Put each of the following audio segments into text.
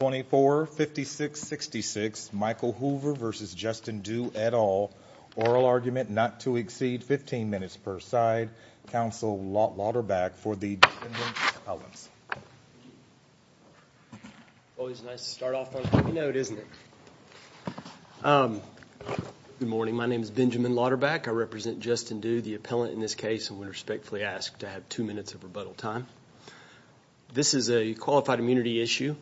24-56-66 Michael Hoover versus Justin Due et al. Oral argument not to exceed 15 minutes per side. Counsel Lauterback for the defendant's appellants. Always nice to start off on a heavy note, isn't it? Good morning, my name is Benjamin Lauterback. I represent Justin Due, the appellant in this case, and would respectfully ask to have two minutes of rebuttal time. This is a qualified immunity issue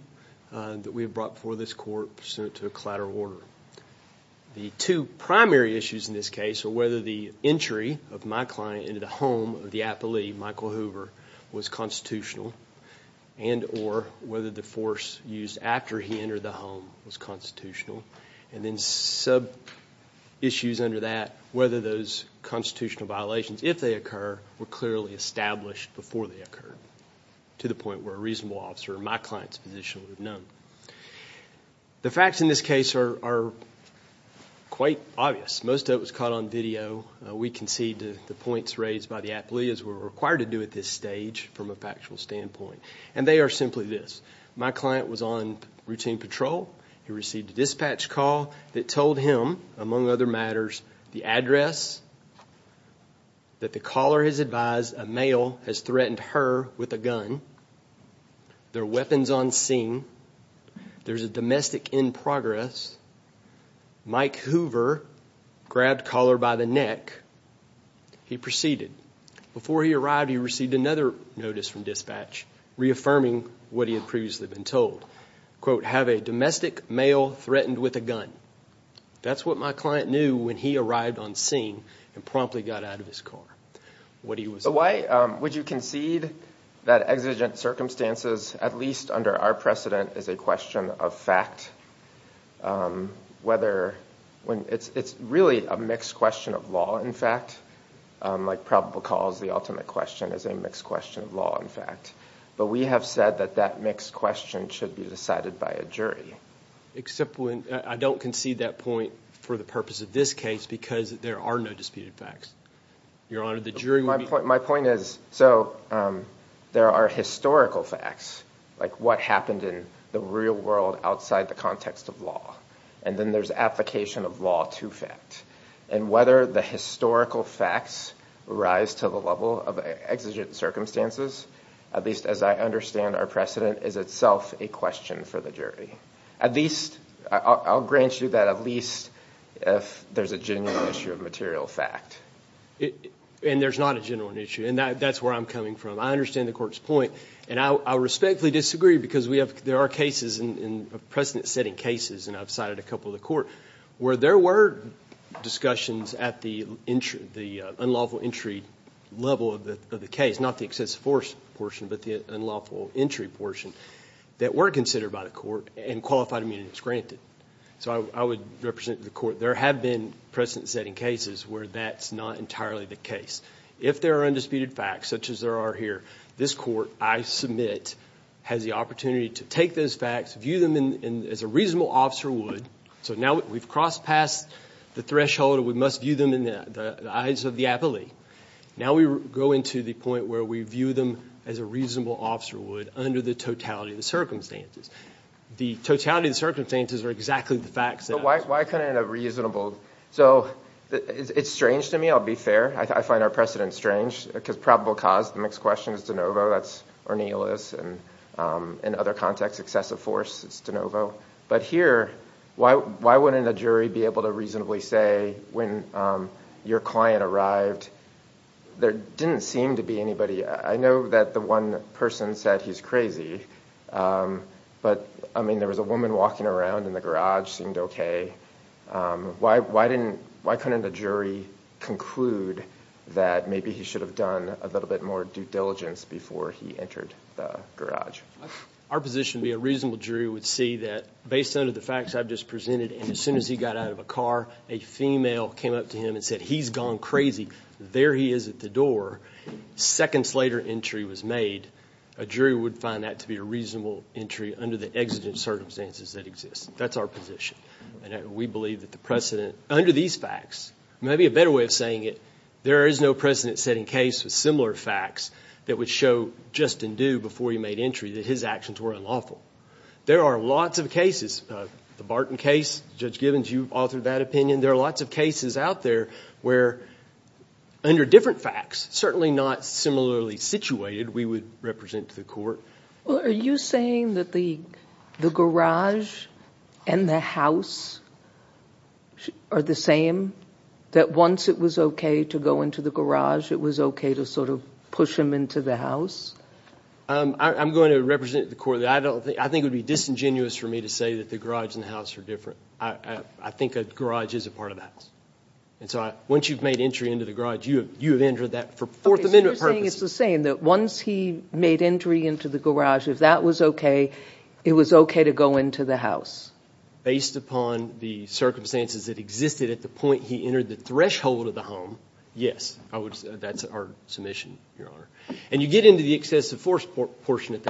that we have brought before this court to a collateral order. The two primary issues in this case are whether the entry of my client into the home of the appellee, Michael Hoover, was constitutional and or whether the force used after he entered the home was constitutional. And then sub-issues under that, whether those constitutional violations, if they occur, were clearly established before they occurred to the point where a reasonable officer in my client's position would have known. The facts in this case are quite obvious. Most of it was caught on video. We concede the points raised by the appellee as we're required to do at this stage from a factual standpoint. And they are simply this. My client was on routine patrol. He that the caller has advised a male has threatened her with a gun. There are weapons on scene. There's a domestic in progress. Mike Hoover grabbed caller by the neck. He proceeded. Before he arrived, he received another notice from dispatch reaffirming what he had previously been told. Quote, have a domestic male threatened with a gun. That's what my client knew when he arrived on scene and promptly got out of his car. Why would you concede that exigent circumstances, at least under our precedent, is a question of fact? Whether when it's really a mixed question of law, in fact, like probable cause, the ultimate question is a mixed question of law, in fact. But we have said that that mixed question should be decided by a jury. Except when, I don't concede that point for the purpose of this case because there are no disputed facts. Your Honor, the jury... My point is, so there are historical facts, like what happened in the real world outside the context of law. And then there's application of law to fact. And whether the historical facts rise to the level of exigent circumstances, at least as I understand our precedent, is itself a question for the jury. At least, I'll grant you that, at least if there's a genuine issue of material fact. And there's not a genuine issue, and that's where I'm coming from. I understand the court's point, and I respectfully disagree because we have, there are cases in precedent-setting cases, and I've cited a couple of the court, where there were discussions at the unlawful entry level of the case. Not the excessive force portion, but the unlawful entry portion, that weren't considered by the court and qualified immunity was granted. So I would represent the court, there have been precedent-setting cases where that's not entirely the case. If there are undisputed facts, such as there are here, this court, I submit, has the opportunity to take those facts, view them as a reasonable officer would. So now we've crossed past the threshold, we must view them in the eyes of the appellee. Now we go into the point where we view them as a reasonable officer would, under the totality of the circumstances. The totality of the circumstances are exactly the facts. But why couldn't a reasonable, so it's strange to me, I'll be fair, I find our precedent strange, because probable cause, the next question is De Novo, that's Ornelas, and in other contexts, excessive force, it's De Novo. But here, why wouldn't a jury be able to reasonably say, when your client arrived, there didn't seem to be anybody, I know that the one person said he's crazy, but I mean, there was a woman walking around in the garage, seemed okay. Why couldn't a jury conclude that maybe he should have done a little bit more due diligence before he entered the garage? Our position would be, a reasonable jury would see that, based on the facts I've just presented, and as soon as he got out of a there he is at the door, seconds later entry was made, a jury would find that to be a reasonable entry under the exigent circumstances that exist. That's our position, and we believe that the precedent, under these facts, maybe a better way of saying it, there is no precedent-setting case with similar facts that would show just in due before he made entry that his actions were unlawful. There are lots of cases, the Barton case, Judge Gibbons, you've authored that opinion, there are lots of cases out there where, under different facts, certainly not similarly situated, we would represent the court. Are you saying that the garage and the house are the same? That once it was okay to go into the garage, it was okay to sort of push him into the house? I'm going to represent the court, I don't think, I think it would be disingenuous for me to say that the garage and the house are different. I think a garage is a part of the house, and so once you've made entry into the garage, you have entered that for Fourth Amendment purposes. So you're saying it's the same, that once he made entry into the garage, if that was okay, it was okay to go into the house? Based upon the circumstances that existed at the point he entered the threshold of the home, yes, that's our submission, Your Honor, and you get into the excessive force portion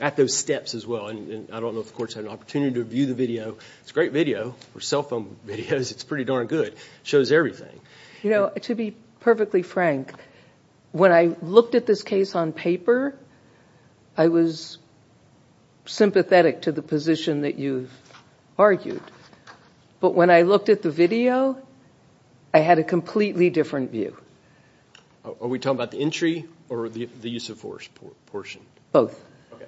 at those steps as well, and I don't know if the court's had an opportunity to view the video, it's a great video for cell phone videos, it's pretty darn good, shows everything. You know, to be perfectly frank, when I looked at this case on paper, I was sympathetic to the position that you've argued, but when I looked at the video, I had a completely different view. Are we talking about the entry or the use of force portion? Both. Okay,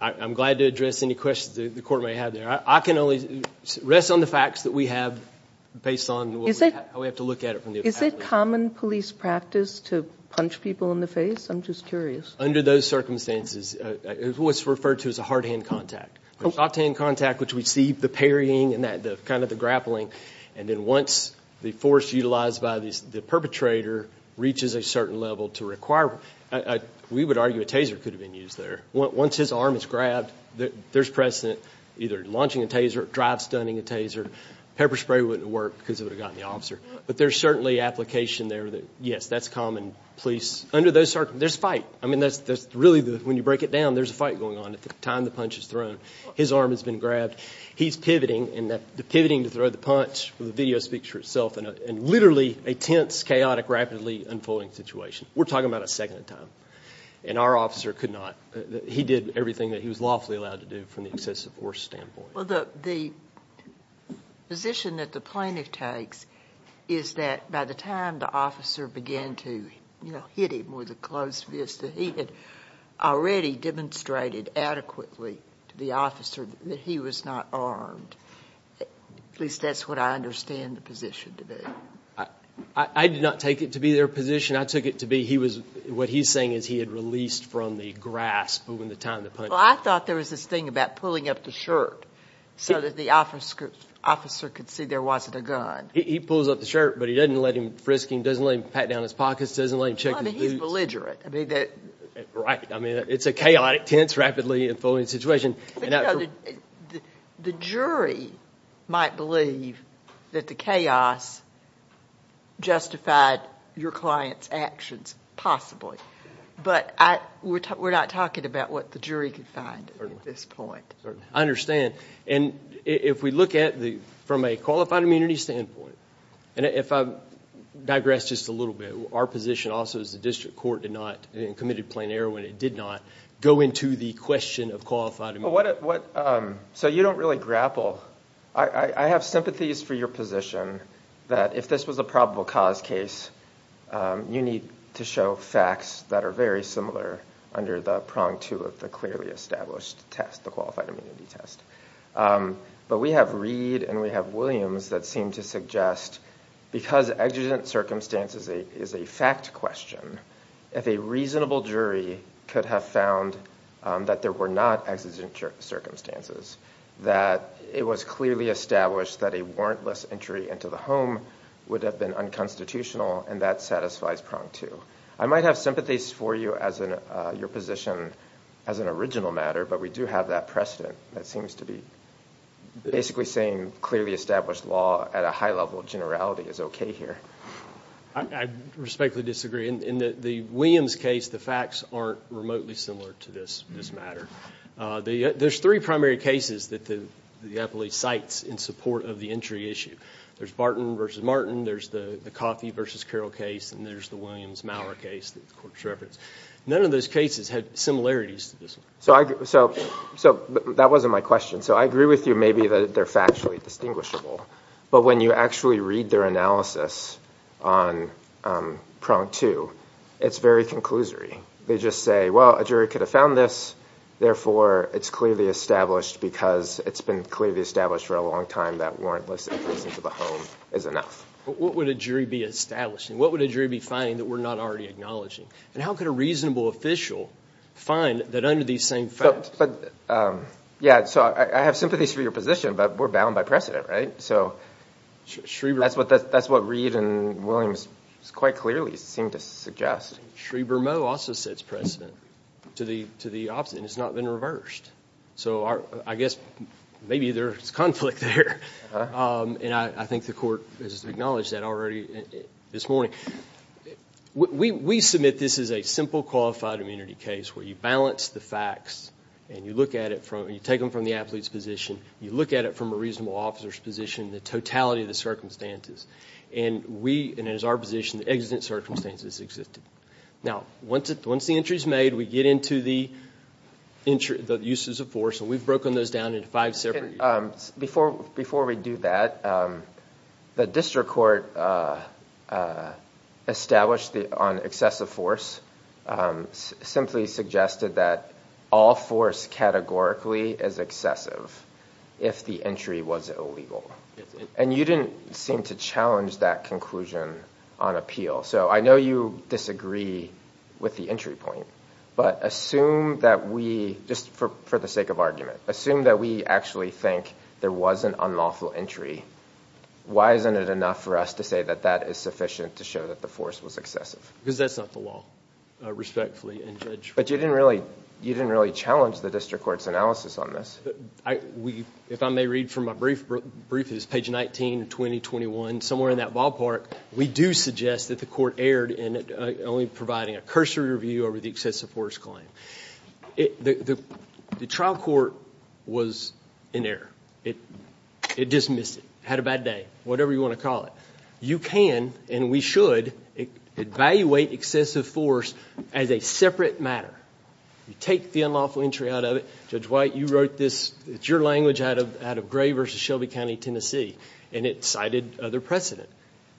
I'm glad to address any questions the court may have there. I can only rest on the facts that we have based on how we have to look at it. Is it common police practice to punch people in the face? I'm just curious. Under those circumstances, it was referred to as a hard hand contact. A soft hand contact, which we see the parrying and that kind of the grappling, and then once the force utilized by the perpetrator reaches a certain level to require, we would argue a taser could have been used there. Once his arm is grabbed, there's precedent, either launching a taser, drive-stunning a taser, pepper spray wouldn't work because it would have gotten the officer, but there's certainly application there that, yes, that's common police. Under those circumstances, there's a fight. I mean, that's really, when you break it down, there's a fight going on at the time the punch is thrown. His arm has been grabbed, he's pivoting, to throw the punch, the video speaks for itself, and literally a tense, chaotic, rapidly unfolding situation. We're talking about a second time, and our officer could not. He did everything that he was lawfully allowed to do from the excessive force standpoint. Well, the position that the plaintiff takes is that by the time the officer began to, you know, hit him with a closed fist, he had already demonstrated adequately to the officer that he was not armed. At least that's what I understand the position to be. I did not take it to be their position. I took it to be he was, what he's saying is he had released from the grasp when the time the punch. Well, I thought there was this thing about pulling up the shirt so that the officer could see there wasn't a gun. He pulls up the shirt, but he doesn't let him frisk him, doesn't let him pat down his pockets, doesn't let him check his boots. Well, I mean, he's belligerent. Right. I mean, it's a chaotic, tense, rapidly unfolding situation. The jury might believe that the chaos justified your client's actions, possibly, but we're not talking about what the jury can find at this point. I understand, and if we look at the, from a qualified immunity standpoint, and if I digress just a little bit, our position also is the district court did not, and committed plain error when it did not, go into the question of qualified immunity. So you don't really grapple. I have sympathies for your position that if this was a probable cause case, you need to show facts that are very similar under the prong two of the clearly established test, the qualified immunity test. But we have Reed and we have Williams that seem to suggest because exigent circumstances is a fact question, if a reasonable jury could have found that there were not exigent circumstances, that it was clearly established that a warrantless entry into the home would have been unconstitutional and that satisfies prong two. I might have sympathies for you as in your position as an original matter, but we do have that precedent that seems to be basically saying clearly established law at a high level of generality is okay here. I respectfully disagree. In the Williams case, the facts aren't remotely similar to this matter. There's three primary cases that the appellee cites in support of the entry issue. There's Barton versus Martin, there's the Coffey versus Carroll case, and there's the Williams-Maurer case that the court has referenced. None of those cases had similarities to this one. So that wasn't my question. So I agree with you maybe that they're factually distinguishable, but when you actually read their analysis on prong two, it's very conclusory. They just say, well, a jury could have found this, therefore it's clearly established because it's been clearly established for a long time that warrantless entry into the home is enough. What would a jury be establishing? What would a jury be finding that we're not already acknowledging? And how could a reasonable official find that under these same facts? Yeah, so I have sympathies for your position, but we're bound by precedent, right? So that's what Reid and Williams quite clearly seem to suggest. Schreber-Moe also sets precedent to the opposite, and it's not been reversed. So I guess maybe there's conflict there, and I think the court has acknowledged that already this morning. We submit this is a simple qualified immunity case where you balance the facts and you look at it from, you take them from the athlete's position, you look at it from a reasonable officer's position, the totality of the circumstances, and we, and it is our position, the exigent circumstances existed. Now, once the entry is made, we get into the uses of force, and we've broken those down into five separate... Before we do that, the district court established on excessive force simply suggested that all force categorically is excessive if the entry was illegal, and you didn't seem to challenge that conclusion on appeal. So I know you disagree with the entry point, but assume that we, just for the sake of argument, assume that we actually think there was an unlawful entry. Why isn't it enough for us to say that that is sufficient to show that the force was excessive? Because that's not the law, respectfully, and Judge... But you didn't really, you didn't really challenge the district court's analysis on this. I, we, if I may read from my brief, brief is page 19, 2021, somewhere in that ballpark, we do suggest that the court erred in only providing a cursory review over the excessive force claim. The trial court was in error. It dismissed it, had a You can, and we should, evaluate excessive force as a separate matter. You take the unlawful entry out of it. Judge White, you wrote this, it's your language out of out of Gray versus Shelby County, Tennessee, and it cited other precedent.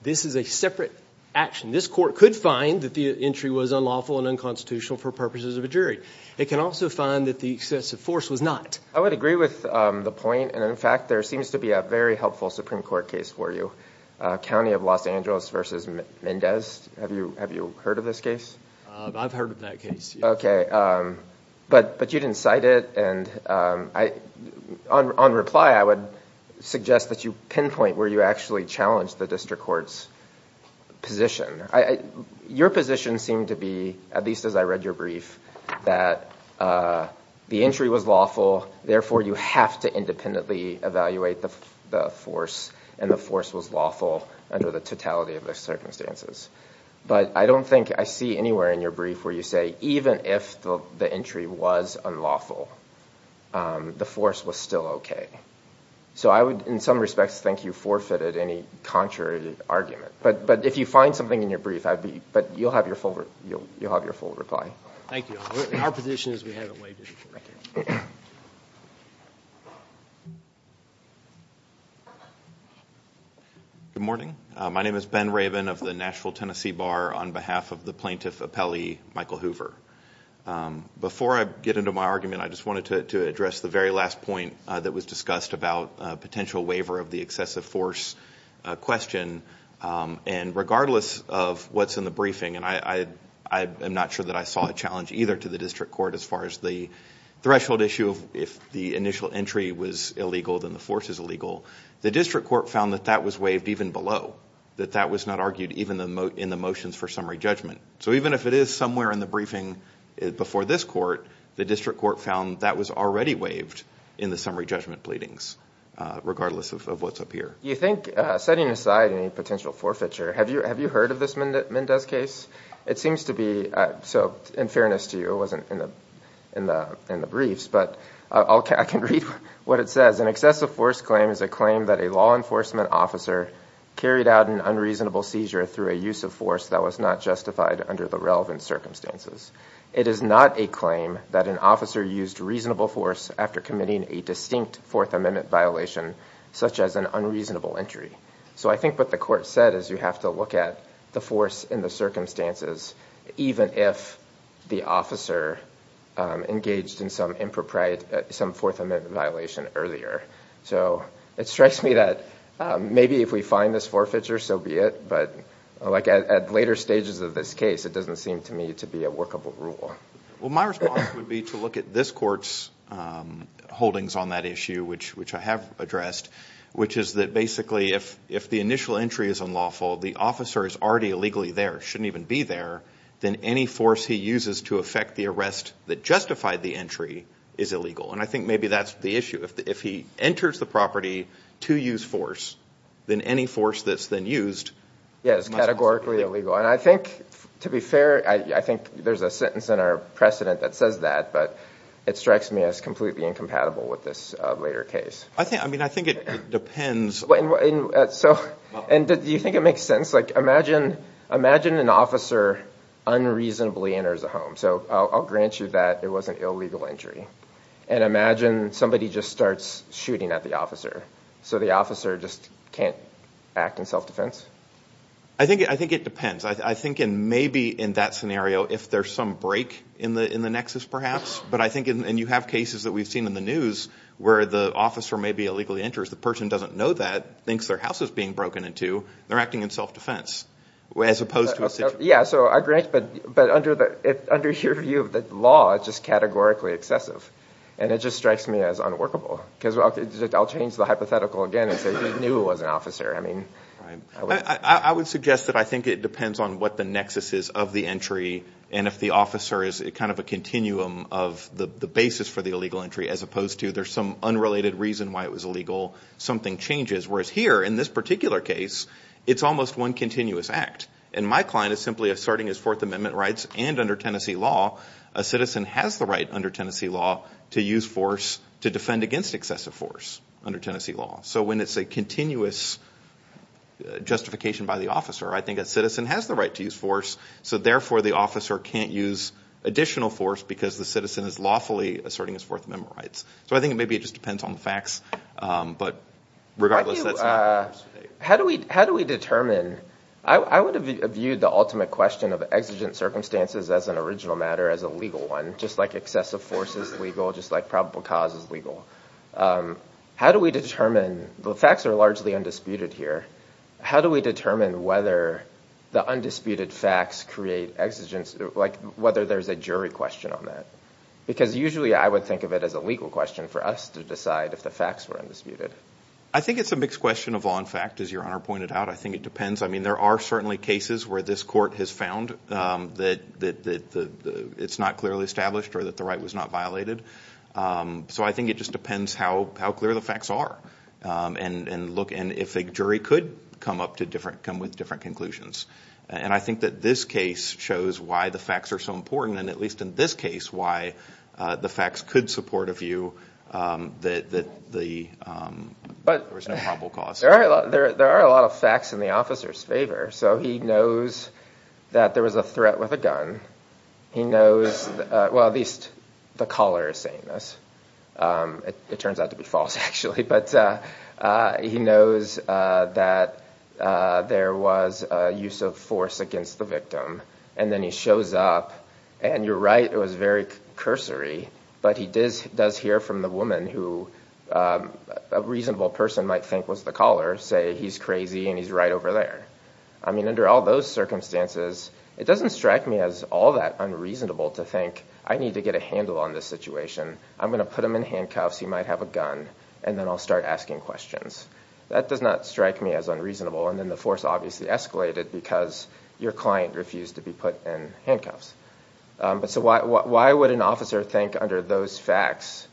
This is a separate action. This court could find that the entry was unlawful and unconstitutional for purposes of a jury. It can also find that the excessive force was not. I would agree with the point, and in fact there seems to be a very helpful Supreme Court case for you. County of Los Angeles versus Mendez. Have you, have you heard of this case? I've heard of that case. Okay, but, but you didn't cite it, and I, on reply, I would suggest that you pinpoint where you actually challenged the district court's position. I, your position seemed to be, at least as I read your brief, that the entry was lawful, therefore you have to independently evaluate the force, and the force was lawful under the totality of the circumstances. But I don't think I see anywhere in your brief where you say, even if the entry was unlawful, the force was still okay. So I would, in some respects, think you forfeited any contrary argument. But, but if you find something in your brief, I'd be, but you'll have your full, you'll have your full reply. Thank you. Our position is we waited. Good morning. My name is Ben Rabin of the Nashville Tennessee Bar on behalf of the plaintiff appellee, Michael Hoover. Before I get into my argument, I just wanted to address the very last point that was discussed about potential waiver of the excessive force question. And regardless of what's in the briefing, and I, I am not sure that I saw a challenge either to the district court as far as the threshold issue of if the initial entry was illegal, then the force is illegal. The district court found that that was waived even below, that that was not argued even in the motions for summary judgment. So even if it is somewhere in the briefing before this court, the district court found that was already waived in the summary judgment pleadings, regardless of what's up here. You think, setting aside any potential forfeiture, have you, have you heard of this Mendez case? It seems to be, so in fairness to you, it wasn't in the in the briefs, but I'll, I can read what it says. An excessive force claim is a claim that a law enforcement officer carried out an unreasonable seizure through a use of force that was not justified under the relevant circumstances. It is not a claim that an officer used reasonable force after committing a distinct Fourth Amendment violation, such as an unreasonable entry. So I think what the court said is you have to look at the force in the circumstances, even if the officer engaged in some impropriate, some Fourth Amendment violation earlier. So it strikes me that maybe if we find this forfeiture, so be it, but like at later stages of this case, it doesn't seem to me to be a workable rule. Well my response would be to look at this court's holdings on that issue, which which I have addressed, which is that basically if, if the initial entry is unlawful, the officer is already illegally there, shouldn't even be there, then any force he uses to affect the arrest that justified the entry is illegal. And I think maybe that's the issue. If he enters the property to use force, then any force that's then used... Yes, categorically illegal. And I think, to be fair, I think there's a sentence in our precedent that says that, but it strikes me as completely incompatible with this later case. I think, I mean, I think it depends... So, and do you think it makes sense? Like imagine, imagine an officer unreasonably enters a home. So I'll grant you that it was an illegal entry. And imagine somebody just starts shooting at the officer. So the officer just can't act in self-defense? I think, I think it depends. I think in, maybe in that scenario, if there's some break in the, in the nexus perhaps, but I think in, and you have cases that we've seen in the news where the officer may be illegally enters, the person doesn't know that, thinks their house is being broken into. They're acting in self-defense, as opposed to... Yeah, so I grant, but, but under the, under your view of the law, it's just categorically excessive. And it just strikes me as unworkable. Because I'll change the hypothetical again and say he knew it was an officer. I mean... I would suggest that I think it depends on what the nexus is of the entry, and if the officer is a kind of a continuum of the basis for the illegal entry, as opposed to there's some unrelated reason why it was illegal, something changes. Whereas here, in this particular case, it's almost one continuous act. And my client is simply asserting his Fourth Amendment rights, and under Tennessee law, a citizen has the right under Tennessee law to use force to defend against excessive force under Tennessee law. So when it's a continuous justification by the officer, I think a citizen has the right to use force, so therefore the officer can't use additional force because the citizen is lawfully asserting his Fourth Amendment rights. So I think maybe it just depends on the facts, but regardless... How do we, how do we determine... I would have viewed the ultimate question of exigent circumstances as an original matter, as a legal one, just like excessive force is legal, just like probable cause is legal. How do we determine... the facts are largely undisputed here. How do we determine whether the undisputed facts create exigence, like whether there's a jury question on that? Because usually I would think of it as a legal question for us to decide if the facts were undisputed. I think it's a mixed question of law and fact, as Your Honor pointed out. I think it depends. I mean, there are certainly cases where this court has found that it's not clearly established, or that the right was not violated. So I think it just depends how clear the facts are, and if a jury could come up to different, come with different conclusions. And I think that this case shows why the facts are so important, and at least in this case, why the facts could support a view that there was no probable cause. There are a lot of facts in the officer's favor. So he knows that there was a threat with a gun. He knows, well at least the caller is saying this. It turns out to be false, actually. But he knows that there was a use of force against the victim. And then he shows up, and you're right, it was very cursory, but he does hear from the woman, who a reasonable person might think was the caller, say he's crazy and he's right over there. I mean, under all those circumstances, it doesn't strike me as all that unreasonable to think, I need to get a handle on this situation. I'm gonna put him in handcuffs, he might have a gun, and then I'll start asking questions. That does not strike me as unreasonable, and then the force obviously escalated because your client refused to be put in handcuffs. So why would an officer think under those facts,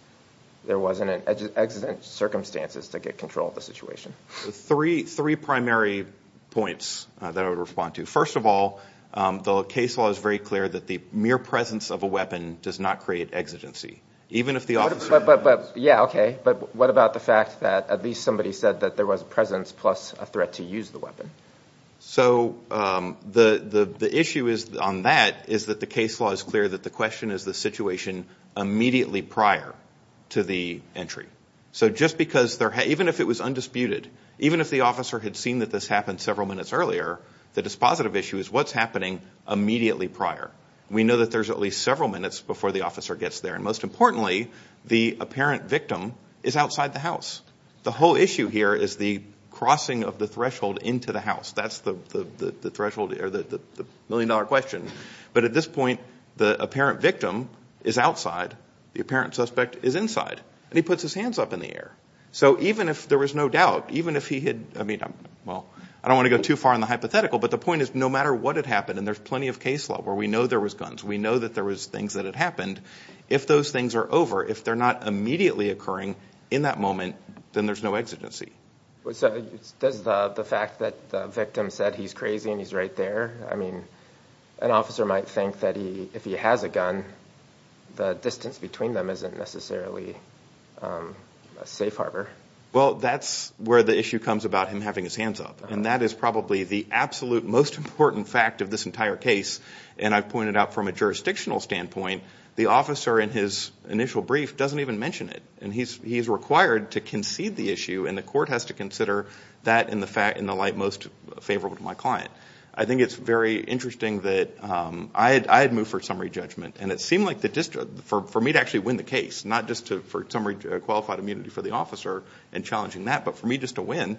there wasn't an exigent circumstances to get control of the situation? Three primary points that I would respond to. First of all, the case law is very clear that the mere presence of a weapon does not create exigency, even if the officer... Yeah, okay, but what about the fact that at least somebody said that there was a presence plus a threat to use the weapon? So the issue is, on that, is that the case law is clear that the question is the situation immediately prior to the entry. So just because, even if it was undisputed, even if the officer had seen that this happened several minutes earlier, the dispositive issue is what's happening immediately prior. We know that there's at least several minutes before the officer gets there, and most importantly, the apparent victim is outside the house. The whole issue here is the crossing of the threshold into the house. That's the million-dollar question. But at this point, the apparent victim is outside, the apparent suspect is inside, and he puts his hands up in the air. So even if there was no doubt, even if he had... I mean, well, I don't want to go too far in the hypothetical, but the point is, no matter what had happened, and there's plenty of case law where we know there was guns, we know that there was things that had happened, if those things are over, if they're not immediately occurring in that moment, then there's no exigency. So does the fact that the victim said he's crazy and he's right there, I mean, an officer might think that if he has a gun, the distance between them isn't necessarily a safe harbor. Well, that's where the issue comes about him having his hands up, and that is probably the absolute most important fact of this entire case, and I've pointed out from a jurisdictional standpoint, the officer in his initial brief doesn't even mention it, and he's required to concede the issue, and the court has to consider that in the light most favorable to my client. I think it's very interesting that I had moved for summary judgment, and it seemed like for me to actually win the case, not just for summary qualified immunity for the officer and challenging that, but for me just to win,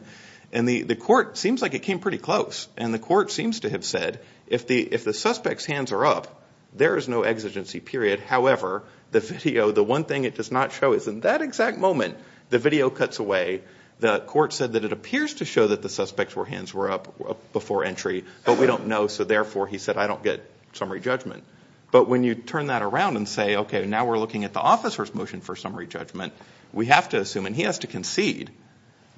and the court seems like it came pretty close, and the court seems to have said if the suspect's hands are up, there is no exigency, period. However, the video, the one thing it does not show is in that exact moment, the video cuts away. The court said that it appears to show that the suspect's hands were up before entry, but we don't know, so therefore, he said, I don't get summary judgment. But when you turn that around and say, okay, now we're looking at the officer's motion for summary judgment, we have to assume, and he has to concede,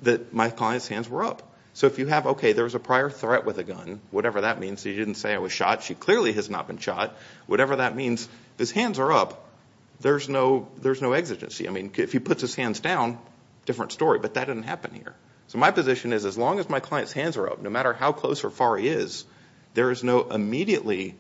that my client's hands were up. So if you have, okay, there was a prior threat with the gun, whatever that means, he didn't say I was shot, she clearly has not been shot, whatever that means, his hands are up, there's no, there's no exigency. I mean, if he puts his hands down, different story, but that didn't happen here. So my position is, as long as my client's hands are up, no matter how close or far he is, there is no immediately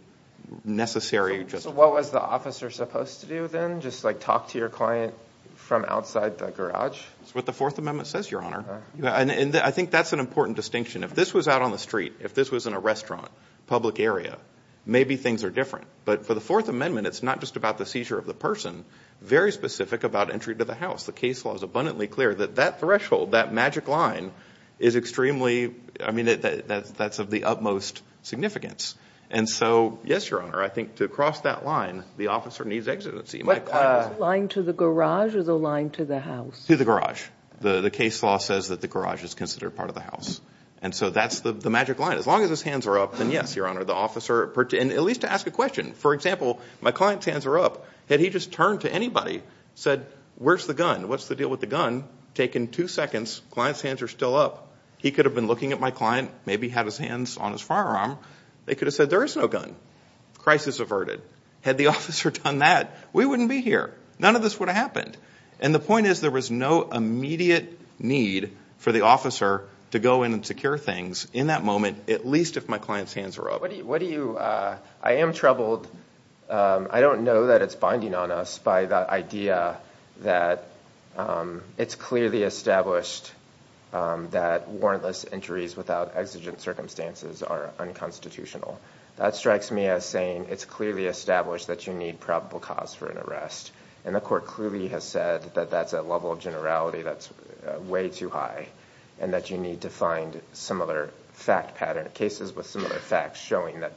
necessary... So what was the officer supposed to do then? Just like talk to your client from outside the garage? It's what the Fourth Amendment says, Your Honor. Yeah, and I think that's an important distinction. If this was out on the street, if this was in a restaurant, public area, maybe things are different. But for the Fourth Amendment, it's not just about the seizure of the person, very specific about entry to the house. The case law is abundantly clear that that threshold, that magic line, is extremely, I mean, that's of the utmost significance. And so, yes, Your Honor, I think to cross that line, the officer needs exigency. Line to the garage or the line to the house? To the garage. The case law says that the garage is considered part of the house. And so that's the magic line. As long as his hands are up, then yes, Your Honor, the officer... And at least to ask a question. For example, my client's hands are up. Had he just turned to anybody, said, where's the gun? What's the deal with the gun? Taken two seconds, client's hands are still up. He could have been looking at my client, maybe had his hands on his firearm. They could have said, there is no gun. Crisis averted. Had the officer done that, we wouldn't be here. None of this would have happened. And the point is, there was no immediate need for the officer to go in and secure things in that moment, at least if my client's hands are up. What do you... I am troubled. I don't know that it's binding on us by the idea that it's clearly established that warrantless entries without exigent circumstances are unconstitutional. That strikes me as saying it's clearly established that you need probable cause for an arrest. And court clearly has said that that's a level of generality that's way too high and that you need to find similar fact pattern cases with similar facts showing that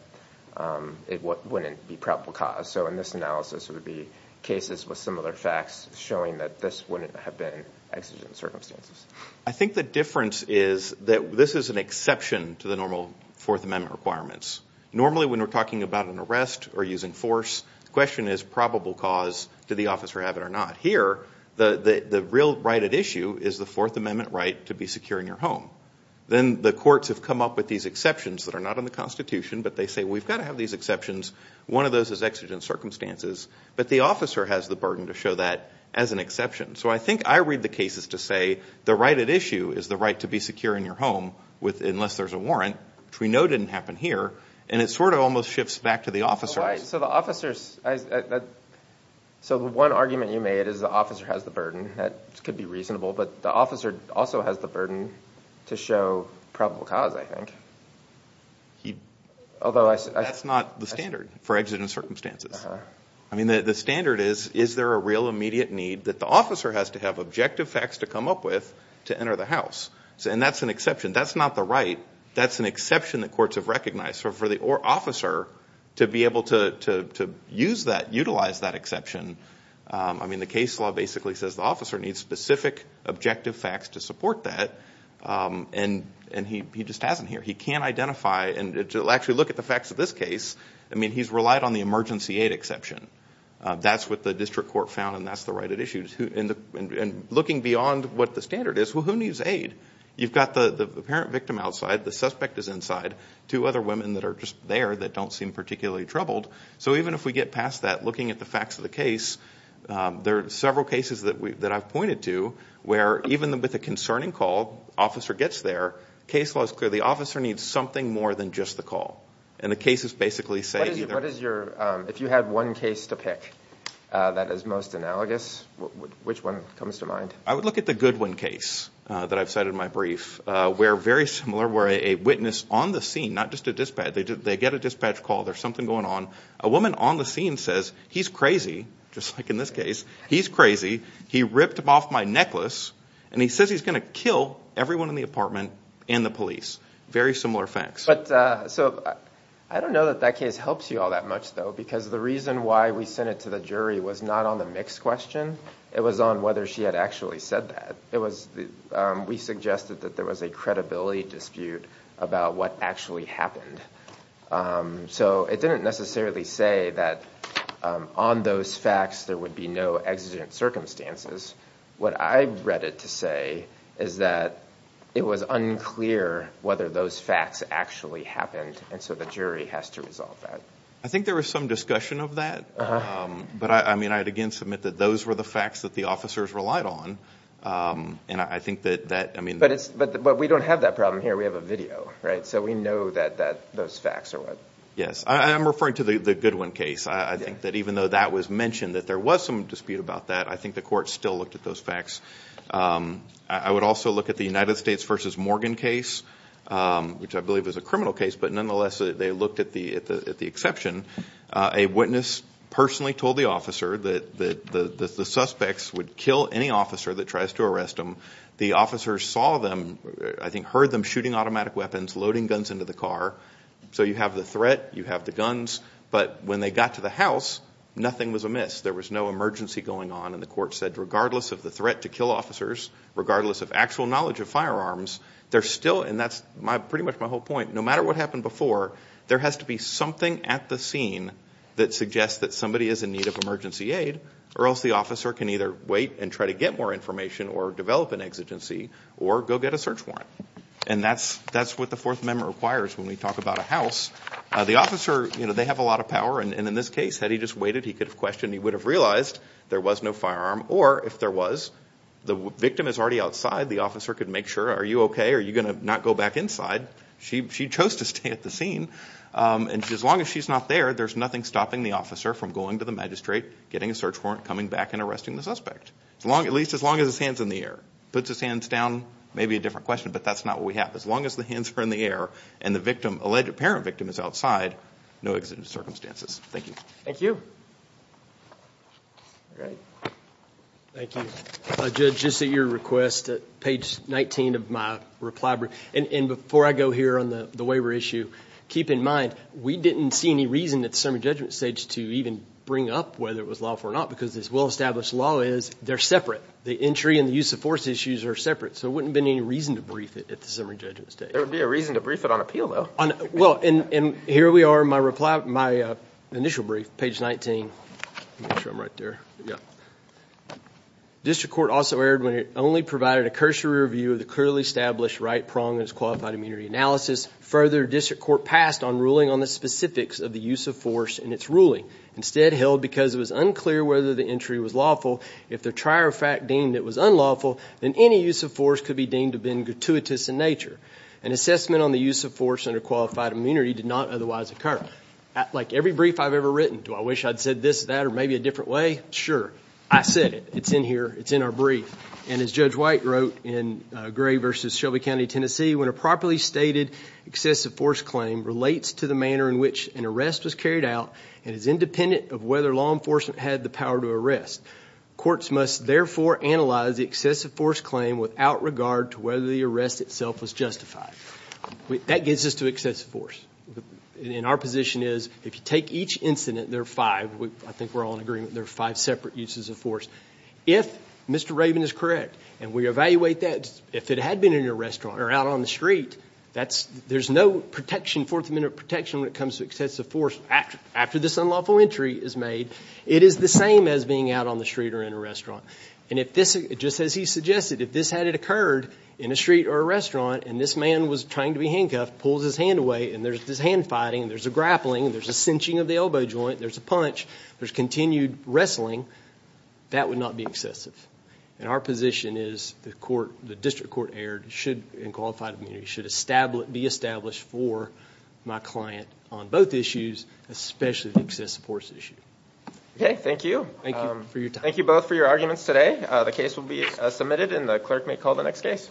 it wouldn't be probable cause. So in this analysis, it would be cases with similar facts showing that this wouldn't have been exigent circumstances. I think the difference is that this is an exception to the normal Fourth Amendment requirements. Normally when we're talking about an arrest or using force, the question is probable cause. Did the officer have it or not? Here, the real right at issue is the Fourth Amendment right to be secure in your home. Then the courts have come up with these exceptions that are not in the Constitution, but they say we've got to have these exceptions. One of those is exigent circumstances, but the officer has the burden to show that as an exception. So I think I read the cases to say the right at issue is the right to be secure in your home, unless there's a warrant, which we know didn't happen here, and it sort of almost shifts back to the officers. So the officers, so the one argument you made is the officer has the burden. That could be reasonable, but the officer also has the burden to show probable cause, I think. Although, that's not the standard for exigent circumstances. I mean the standard is, is there a real immediate need that the officer has to have objective facts to come up with to enter the house? And that's an exception. That's not the right. That's an exception that courts have recognized. So for the officer to be able to use that, utilize that exception, I mean the case law basically says the officer needs specific objective facts to support that, and he just hasn't here. He can't identify, and to actually look at the facts of this case, I mean he's relied on the emergency aid exception. That's what the district court found, and that's the right at issue. And looking beyond what the standard is, well who needs aid? You've got the parent victim outside, the suspect is inside, two other women that are just there that don't seem particularly troubled. So even if we get past that, looking at the facts of the case, there are several cases that we, that I've pointed to, where even with a concerning call, officer gets there, case law is clear. The officer needs something more than just the call, and the cases basically say... What is your, if you had one case to pick that is most analogous, which one comes to mind? I would look at the Goodwin case that I've cited in my brief, where very similar, where a witness on the scene, not just a dispatch, they get a dispatch call, there's something going on, a woman on the scene says, he's crazy, just like in this case, he's crazy, he ripped him off my necklace, and he says he's gonna kill everyone in the apartment and the police. Very similar facts. But, so I don't know that that case helps you all that much though, because the reason why we sent it to the jury was not on the mix question, it was on whether she had actually said that. It was, we suggested that there was a credibility dispute about what actually happened. So it didn't necessarily say that on those facts there would be no exigent circumstances. What I read it to say is that it was unclear whether those facts actually happened, and so the jury has to resolve that. I think there was some discussion of that, but I mean, I'd again submit that those were the facts that the officers relied on, and I think that, I mean... But we don't have that problem here, we have a video, right? So we know that those facts are what... Yes, I'm referring to the Goodwin case. I think that even though that was mentioned, that there was some dispute about that, I think the court still looked at those facts. I would also look at the United States versus Morgan case, which I believe is a criminal case, but nonetheless, they looked at the exception. A witness personally told the officer that the suspects would kill any officer that tries to arrest them. The officers saw them, I think heard them shooting automatic weapons, loading guns into the car. So you have the threat, you have the guns, but when they got to the house, nothing was amiss. There was no emergency going on, and the court said regardless of the threat to kill officers, regardless of actual knowledge of firearms, they're still... And that's pretty much my whole point. No matter what happened before, there has to be something at the scene that suggests that somebody is in need of emergency aid, or else the officer can either wait and try to get more information, or develop an exigency, or go get a search warrant. And that's what the Fourth Amendment requires when we talk about a house. The officer, you know, they have a lot of power, and in this case, had he just waited, he could have questioned, he would have realized there was no firearm, or if there was, the victim is already outside, the officer could make sure, are you okay? Are you gonna not go back inside? She chose to stay at the scene, and as long as she's not there, there's nothing stopping the officer from going to the magistrate, getting a search warrant, coming back, and arresting the suspect. As long, at least, as long as his hands in the air. Puts his hands down, maybe a different question, but that's not what we have. As long as the hands are in the air, and the victim, alleged parent victim, is outside, no exigent circumstances. Thank you. Thank you. Thank you. Judge, just at your request, at page 19 of my reply brief, and before I go here on the the waiver issue, keep in mind, we didn't see any reason at the summary judgment stage to even bring up whether it was lawful or not, because this well-established law is, they're separate. The entry and the use of force issues are separate, so it wouldn't been any reason to brief it at the summary judgment stage. There would be a reason to brief it on appeal, though. Well, and here we are, my reply, my initial brief, page 19. Make sure I'm right there, yeah. District Court also erred when it only provided a cursory review of the clearly established right prong in its qualified immunity analysis. Further, District Court passed on ruling on the specifics of the use of force in its ruling. Instead, held because it was unclear whether the entry was lawful, if the trier of fact deemed it was unlawful, then any use of force could be deemed to have been gratuitous in nature. An assessment on the use of force under qualified immunity did not otherwise occur. Like every brief I've ever written, do I wish I'd said this, that, or maybe a different way? Sure. I said it. It's in our brief, and as Judge White wrote in Gray v. Shelby County, Tennessee, when a properly stated excessive force claim relates to the manner in which an arrest was carried out and is independent of whether law enforcement had the power to arrest, courts must therefore analyze the excessive force claim without regard to whether the arrest itself was justified. That gets us to excessive force, and in our position is, if you take each incident, there are five, I think we're Mr. Raven is correct, and we evaluate that. If it had been in a restaurant or out on the street, that's, there's no protection, fourth amendment protection when it comes to excessive force after this unlawful entry is made. It is the same as being out on the street or in a restaurant, and if this, just as he suggested, if this had occurred in a street or a restaurant, and this man was trying to be handcuffed, pulls his hand away, and there's this hand fighting, there's a grappling, there's a cinching of the elbow joint, there's a punch, there's continued wrestling, that would not be excessive, and our position is the court, the district court erred should, in qualified immunity, should establish, be established for my client on both issues, especially the excessive force issue. Okay, thank you. Thank you for your time. Thank you both for your arguments today. The case will be submitted and the clerk may call the next case.